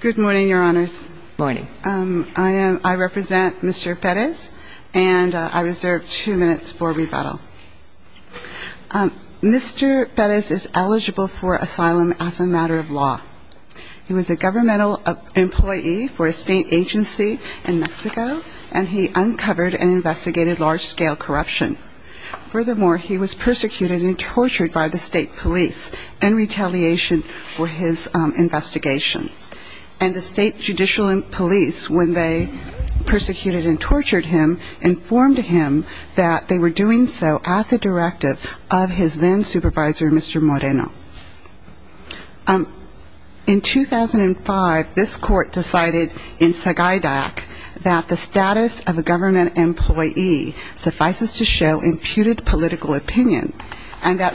Good morning your honors. Morning. I am I represent Mr. Perez and I reserve two minutes for rebuttal. Mr. Perez is eligible for asylum as a matter of law. He was a governmental employee for a state agency in Mexico and he uncovered and investigated large-scale corruption. Furthermore, he was persecuted and the state judicial police, when they persecuted and tortured him, informed him that they were doing so at the directive of his then supervisor Mr. Moreno. In 2005 this court decided in Sagaidac that the status of a government employee suffices to show imputed political opinion and that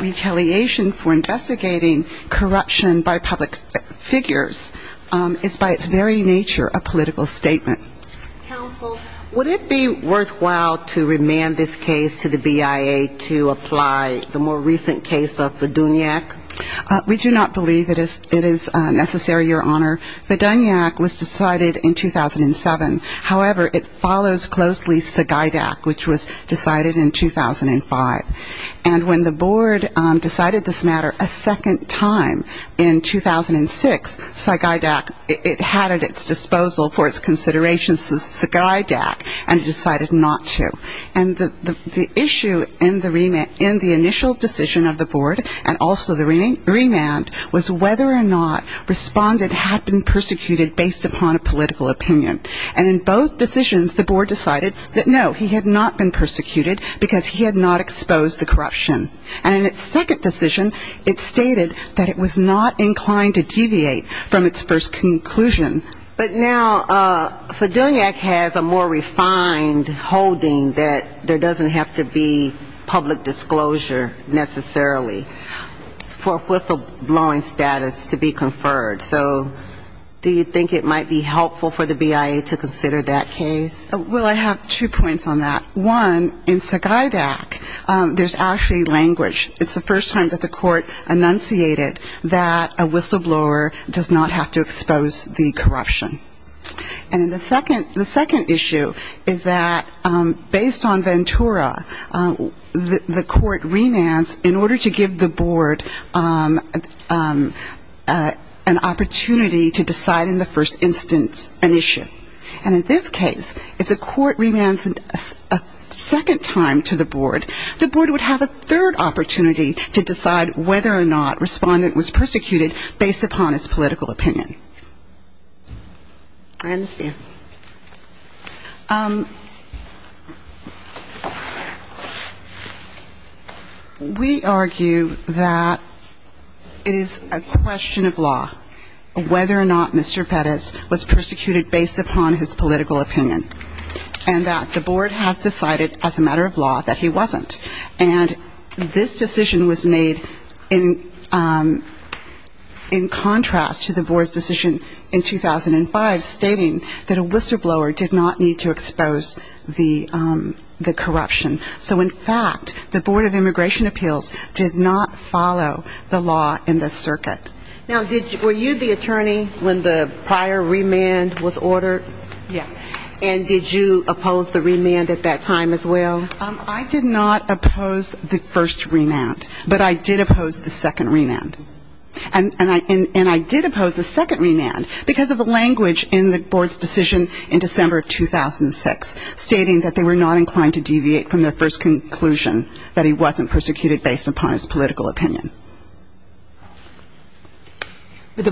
it's by its very nature a political statement. Counsel, would it be worthwhile to remand this case to the BIA to apply the more recent case of Viduniac? We do not believe it is necessary your honor. Viduniac was decided in 2007. However, it follows closely Sagaidac which was decided in 2007. It had at its disposal for its consideration Sagaidac and it decided not to. And the issue in the initial decision of the board and also the remand was whether or not respondent had been persecuted based upon a political opinion. And in both decisions the board decided that no he had not been persecuted because he had not exposed the corruption. And in its second decision it stated that it was not inclined to deviate from its first conclusion. But now Viduniac has a more refined holding that there doesn't have to be public disclosure necessarily for whistle blowing status to be conferred. So do you think it might be helpful for the BIA to consider that case? Well, I have two points on that. One, in Sagaidac there's actually language. It's the first time that the court enunciated that a whistle blower does not have to expose the corruption. And the second issue is that based on Ventura, the court remands in order to give the board an opportunity to decide in the first instance an issue. And in this case, if the court remands in order to give the board an opportunity to decide whether or not respondent was persecuted based upon his political opinion. I understand. We argue that it is a question of law whether or not Mr. Pettis was persecuted based upon his political opinion. And that the board has decided as a matter of law that he wasn't. And this decision was made in contrast to the board's decision in 2005 stating that a whistle blower did not need to expose the corruption. So in fact, the Board of Immigration Appeals did not follow the law in this circuit. Now, were you the attorney when the prior remand at that time as well? I did not oppose the first remand. But I did oppose the second remand. And I did oppose the second remand because of the language in the board's decision in December of 2006 stating that they were not inclined to deviate from their first conclusion that he wasn't persecuted based upon his political opinion. And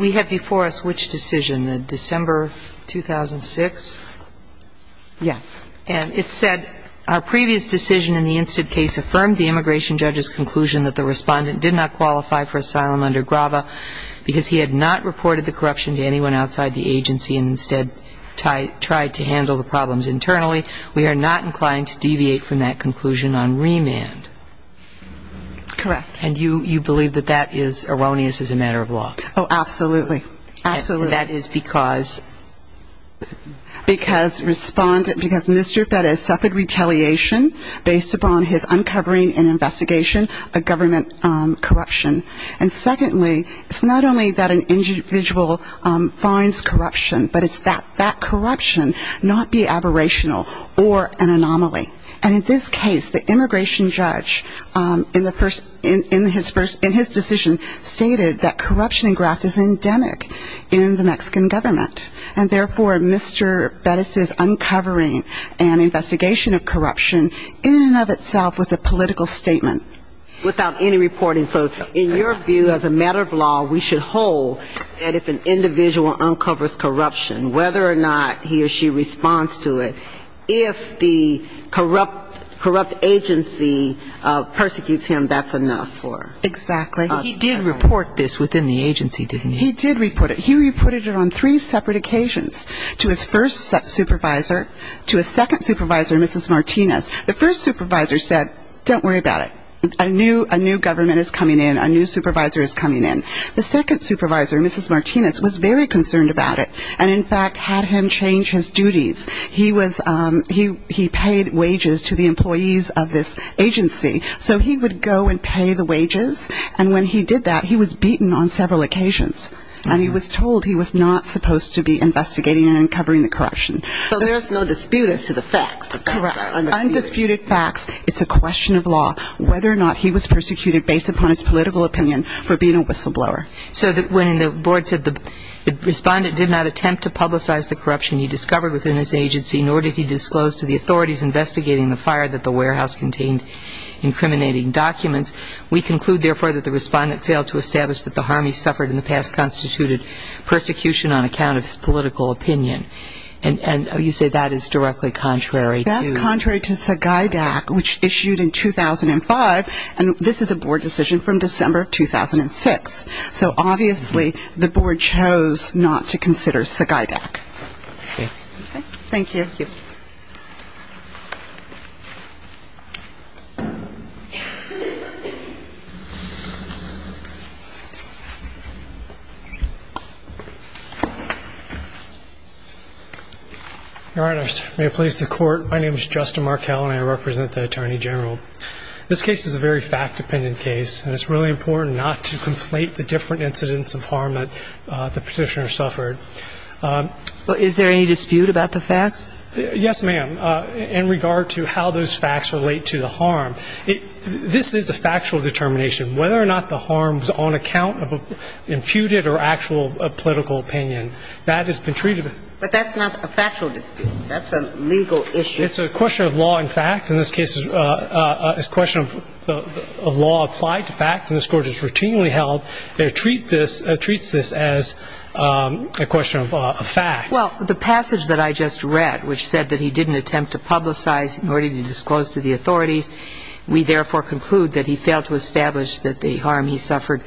we have before us which decision, December 2006? Yes. And it said, our previous decision in the instant case affirmed the immigration judge's conclusion that the respondent did not qualify for asylum under GRAVA because he had not reported the corruption to anyone outside the agency and instead tried to handle the problems internally. We are not inclined to deviate from that conclusion on remand. Correct. And you believe that that is erroneous as a matter of law? Oh, absolutely. Absolutely. And that is because? Because respondent, because mischief that is suffered retaliation based upon his uncovering and investigation of government corruption. And secondly, it's not only that an individual finds corruption, but it's that that corruption not be aberrational or an anomaly. And in this case, the respondent in his decision stated that corruption in graft is endemic in the Mexican government. And therefore, Mr. Bettis' uncovering and investigation of corruption in and of itself was a political statement. Without any reporting. So in your view as a matter of law, we should hold that if an individual uncovers corruption, whether or not he or she responds to it, if the corrupt agency persecutes him, that's enough for us. Exactly. He did report this within the agency, didn't he? He did report it. He reported it on three separate occasions to his first supervisor, to his second supervisor, Mrs. Martinez. The first supervisor said don't worry about it. A new government is coming in. A new supervisor is coming in. The second supervisor, Mrs. Martinez, was very concerned about it and in fact had him change his duties. He paid wages to the employees of this agency. So he would go and pay the wages. And when he did that, he was beaten on several occasions. And he was told he was not supposed to be investigating and uncovering the corruption. So there's no dispute as to the facts. Undisputed facts. It's a question of law whether or not he was persecuted based upon his political opinion for being a whistleblower. So when the board said the respondent did not attempt to publicize the corruption he discovered within his agency, nor did he disclose to the authorities investigating the fire that the warehouse contained incriminating documents, we conclude therefore that the respondent failed to establish that the harm he suffered in the past constituted persecution on account of his political opinion. And you say that is directly contrary to Sagaidak, which issued in 2005, and this is a board decision from December of 2006. So obviously the board chose not to consider Sagaidak. Thank you. Your Honor, may it please the Court, my name is Justin Markell, and I represent the Attorney General. This case is a very fact-dependent case, and it's really important not to conflate the different incidents of harm that the Petitioner suffered. Well, is there any dispute about the facts? Yes, ma'am, in regard to how those facts relate to the harm. This is a factual determination, whether or not the harm was on account of an imputed or actual political opinion. That has been treated. But that's not a factual dispute. That's a legal issue. It's a question of law and fact. In this case, it's a question of law applied to fact, and this Court has routinely held that it treats this as a question of fact. Well, the passage that I just read, which said that he didn't attempt to publicize in order to disclose to the authorities, we therefore conclude that he failed to establish that the harm he suffered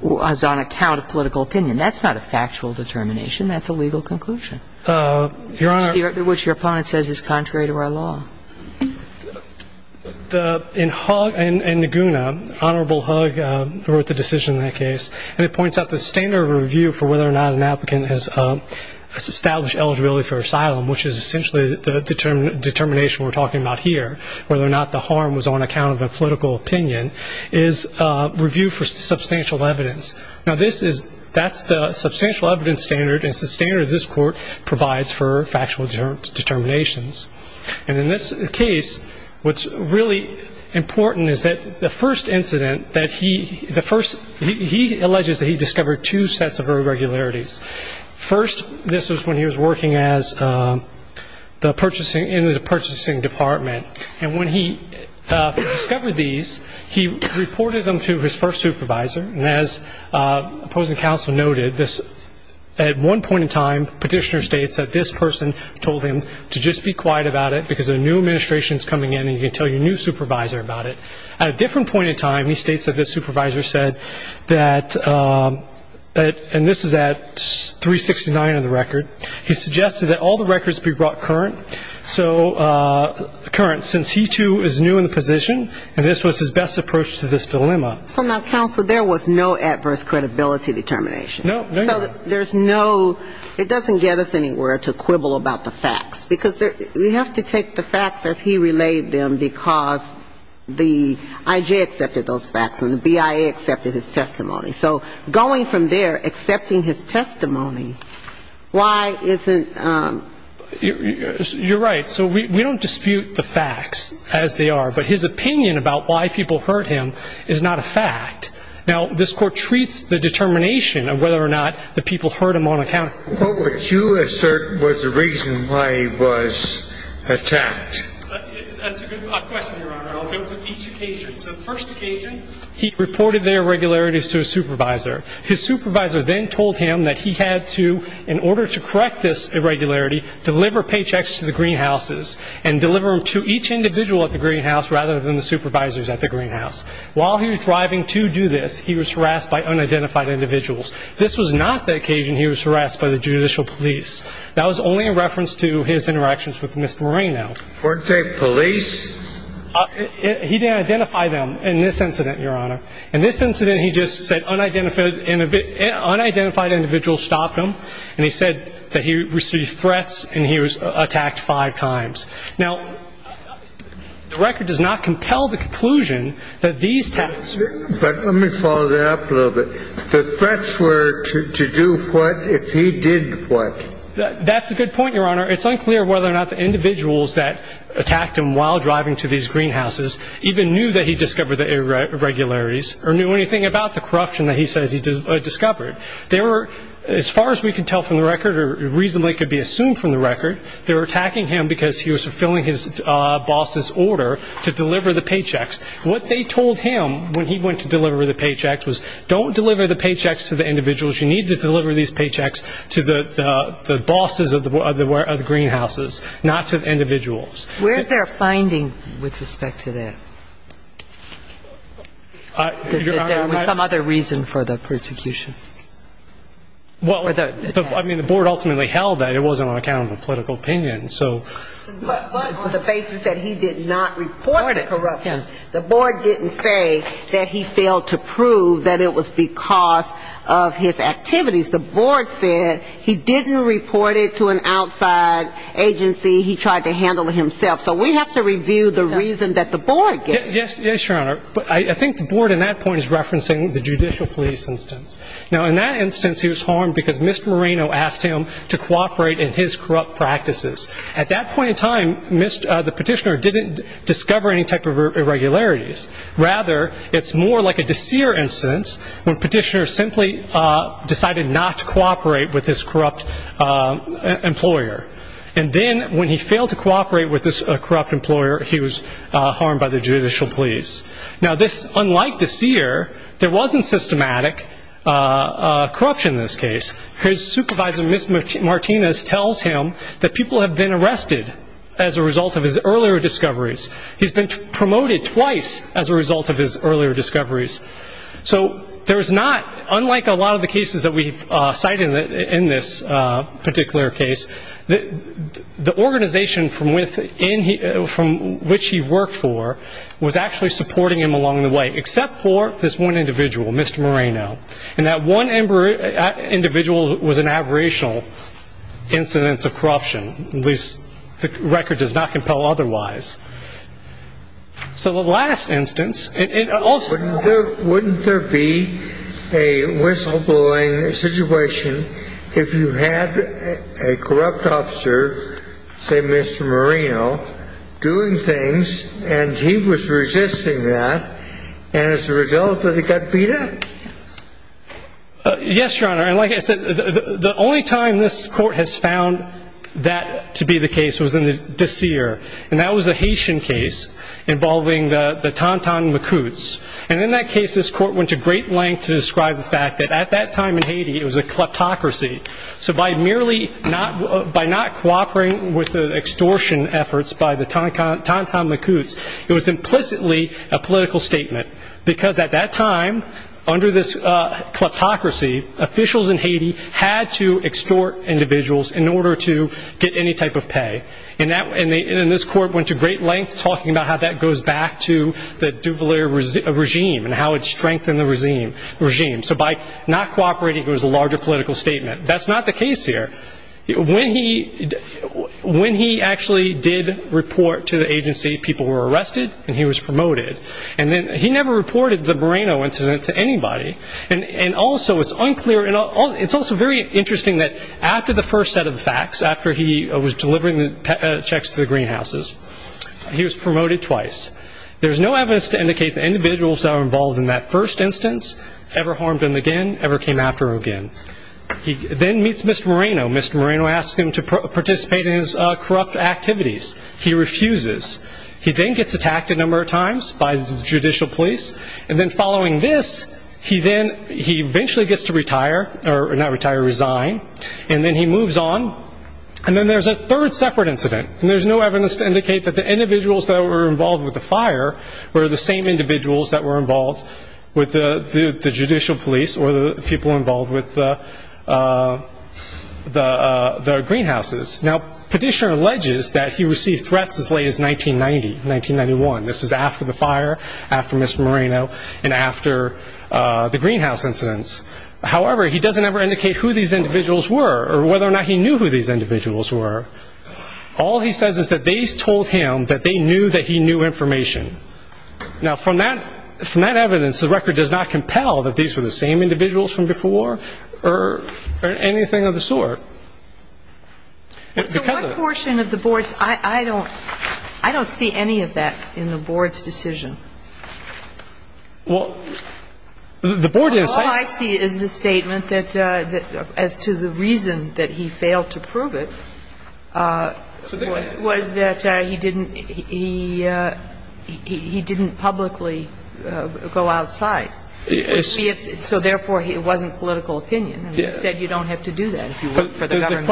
was on account of political opinion. That's not a factual determination. That's a legal conclusion, which your opponent says is contrary to our law. In Naguna, Honorable Hug wrote the decision in that case, and it points out the standard of review for whether or not an applicant has established eligibility for asylum, which is essentially the determination we're talking about here, whether or not the harm was on account of a political opinion, is review for substantial evidence. Now, that's the substantial evidence standard, and it's the standard this Court provides for factual determinations. And in this case, what's really important is that the first incident that he alleges that he discovered two sets of irregularities. First, this was when he was working in the purchasing department, and when he discovered these, he reported them to his first supervisor, and as opposing counsel noted, at one point in time, petitioner states that this person told him to just be quiet about it because a new administration is coming in and he can tell your new supervisor about it. At a different point in time, he states that this supervisor said that, and this is at 369 of the record, he suggested that all the records be brought current, since he, too, is new in the position, and this was his best approach to this dilemma. So now, counsel, there was no adverse credibility determination. No, there's not. So there's no ‑‑ it doesn't get us anywhere to quibble about the facts, because we have to take the facts as he relayed them because the I.J. accepted those facts and the B.I.A. accepted his testimony. So going from there, accepting his testimony, why isn't ‑‑ You're right. So we don't dispute the facts as they are, but his opinion about why people heard him is not a fact. Now, this Court treats the determination of whether or not the people heard him on account ‑‑ But what you assert was the reason why he was attacked. That's a good question, Your Honor. I'll go through each occasion. So the first occasion, he reported the irregularities to his supervisor. His supervisor then told him that he had to, in order to correct this irregularity, deliver paychecks to the greenhouses and deliver them to each individual at the greenhouse rather than the supervisors at the greenhouse. While he was driving to do this, he was harassed by unidentified individuals. This was not the occasion he was harassed by the judicial police. That was only a reference to his interactions with Mr. Moreno. Weren't they police? He didn't identify them in this incident, Your Honor. In this incident, he just said unidentified individuals stopped him, and he said that he received threats and he was attacked five times. Now, the record does not compel the conclusion that these attacks ‑‑ But let me follow that up a little bit. The threats were to do what if he did what? That's a good point, Your Honor. It's unclear whether or not the individuals that attacked him while driving to these greenhouses even knew that he discovered the irregularities or knew anything about the corruption that he says he discovered. They were, as far as we can tell from the record, or reasonably could be assumed from the record, they were attacking him because he was fulfilling his boss's order to deliver the paychecks. What they told him when he went to deliver the paychecks was, don't deliver the paychecks to the individuals. You need to deliver these paychecks to the bosses of the greenhouses, not to the individuals. Where is there a finding with respect to that? That there was some other reason for the persecution? Well, I mean, the board ultimately held that it wasn't on account of a political opinion. But on the basis that he did not report the corruption, the board didn't say that he failed to prove that it was because of his activities. The board said he didn't report it to an outside agency. He tried to handle it himself. So we have to review the reason that the board gave. Yes, Your Honor. But I think the board in that point is referencing the judicial police instance. Now, in that instance, he was harmed because Mr. Moreno asked him to cooperate in his corrupt practices. At that point in time, the petitioner didn't discover any type of irregularities. Rather, it's more like a DeSere instance, when petitioners simply decided not to cooperate with this corrupt employer. And then when he failed to cooperate with this corrupt employer, he was harmed by the judicial police. Now, unlike DeSere, there wasn't systematic corruption in this case. His supervisor, Ms. Martinez, tells him that people have been arrested as a result of his earlier discoveries. He's been promoted twice as a result of his earlier discoveries. So there's not, unlike a lot of the cases that we've cited in this particular case, the organization from which he worked for was actually supporting him along the way, except for this one individual, Mr. Moreno. And that one individual was an aberrational incidence of corruption. At least the record does not compel otherwise. So the last instance, it also – Wouldn't there be a whistleblowing situation if you had a corrupt officer, say Mr. Moreno, doing things, and he was resisting that, and as a result, he got beat up? Yes, Your Honor. And like I said, the only time this Court has found that to be the case was in the DeSere. And that was the Haitian case involving the Tonton Macoutes. And in that case, this Court went to great lengths to describe the fact that at that time in Haiti, it was a kleptocracy. So by merely not – by not cooperating with the extortion efforts by the Tonton Macoutes, it was implicitly a political statement, because at that time, under this kleptocracy, officials in Haiti had to extort individuals in order to get any type of pay. And this Court went to great lengths talking about how that goes back to the Duvalier regime and how it strengthened the regime. So by not cooperating, it was a larger political statement. That's not the case here. When he actually did report to the agency, people were arrested and he was promoted. And he never reported the Moreno incident to anybody. And also, it's unclear – it's also very interesting that after the first set of facts, after he was delivering the checks to the greenhouses, he was promoted twice. There's no evidence to indicate the individuals that were involved in that first instance ever harmed him again, ever came after him again. He then meets Mr. Moreno. Mr. Moreno asks him to participate in his corrupt activities. He refuses. He then gets attacked a number of times by the judicial police. And then following this, he then – he eventually gets to retire – or not retire, resign. And then he moves on. And then there's a third separate incident. And there's no evidence to indicate that the individuals that were involved with the fire were the same individuals that were involved with the judicial police or the people involved with the greenhouses. Now, Petitioner alleges that he received threats as late as 1990, 1991. This is after the fire, after Mr. Moreno, and after the greenhouse incidents. However, he doesn't ever indicate who these individuals were or whether or not he knew who these individuals were. All he says is that they told him that they knew that he knew information. Now, from that evidence, the record does not compel that these were the same individuals from before or anything of the sort. So what portion of the board's – I don't see any of that in the board's decision. Well, the board didn't say – The only thing I see is the statement that – as to the reason that he failed to prove it was that he didn't – he didn't publicly go outside. So therefore, it wasn't political opinion. And you said you don't have to do that if you work for the government.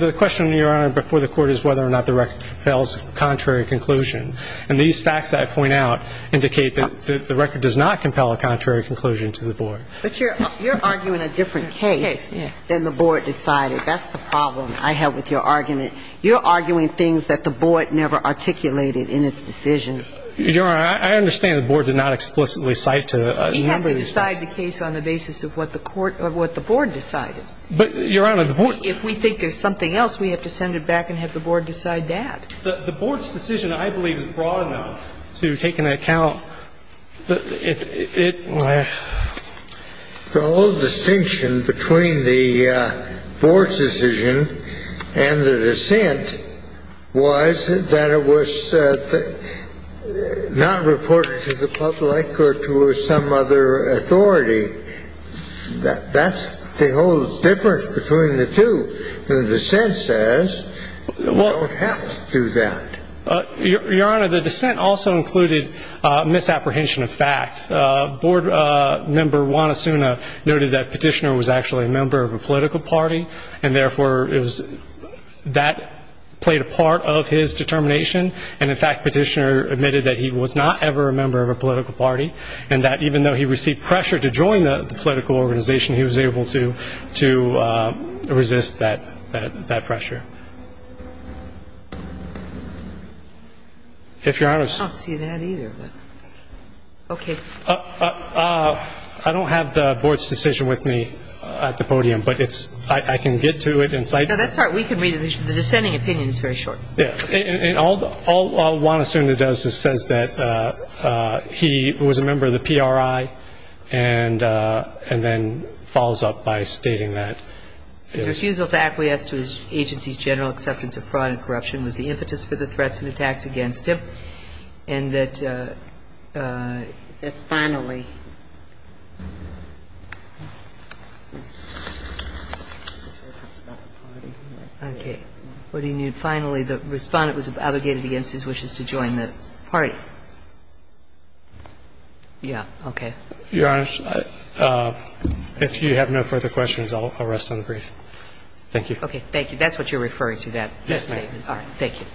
The question, Your Honor, before the Court is whether or not the record compels contrary conclusion. And these facts that I point out indicate that the record does not compel a contrary conclusion to the board. But you're arguing a different case than the board decided. That's the problem I have with your argument. You're arguing things that the board never articulated in its decision. Your Honor, I understand the board did not explicitly cite to – We have to decide the case on the basis of what the board decided. But, Your Honor, the board – If we think there's something else, we have to send it back and have the board decide that. The board's decision, I believe, is broad enough to take into account that it – The whole distinction between the board's decision and the dissent was that it was not reported to the public or to some other authority. That's the whole difference between the two. The dissent says the board has to do that. Your Honor, the dissent also included misapprehension of fact. Board member Juan Asuna noted that Petitioner was actually a member of a political party, and therefore that played a part of his determination. And, in fact, Petitioner admitted that he was not ever a member of a political party and that even though he received pressure to join the political organization, he was able to resist that pressure. If Your Honor – I don't see that either. Okay. I don't have the board's decision with me at the podium, but I can get to it in sight. No, that's all right. We can read it. The dissenting opinion is very short. All Juan Asuna does is says that he was a member of the PRI and then follows up by stating that – His refusal to acquiesce to his agency's general acceptance of fraud and corruption was the impetus for the threats and attacks against him, and that – Yes, finally. Okay. What do you need? Finally, the Respondent was abrogated against his wishes to join the party. Yeah. Okay. Your Honor, if you have no further questions, I'll rest on the brief. Thank you. Okay. Thank you. That's what you're referring to, that statement. Thank you.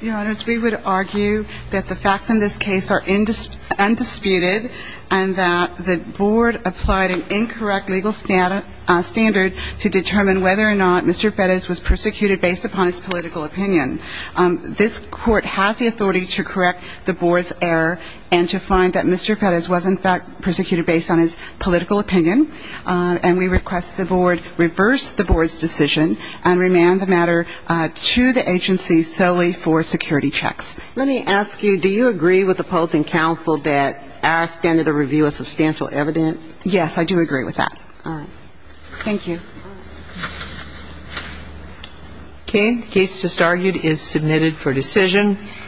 Your Honor, as we would argue that the facts in this case are undisputed and that the board applied an incorrect legal standard to determine whether or not Mr. Pettis was persecuted based upon his political opinion. This Court has the authority to correct the board's error and to find that Mr. Pettis was, in fact, persecuted based on his political opinion, and we request the board revoke that statement. First, the board's decision, and remand the matter to the agency solely for security checks. Let me ask you, do you agree with opposing counsel that our standard of review is substantial evidence? Yes, I do agree with that. All right. Thank you. Okay. The case just argued is submitted for decision.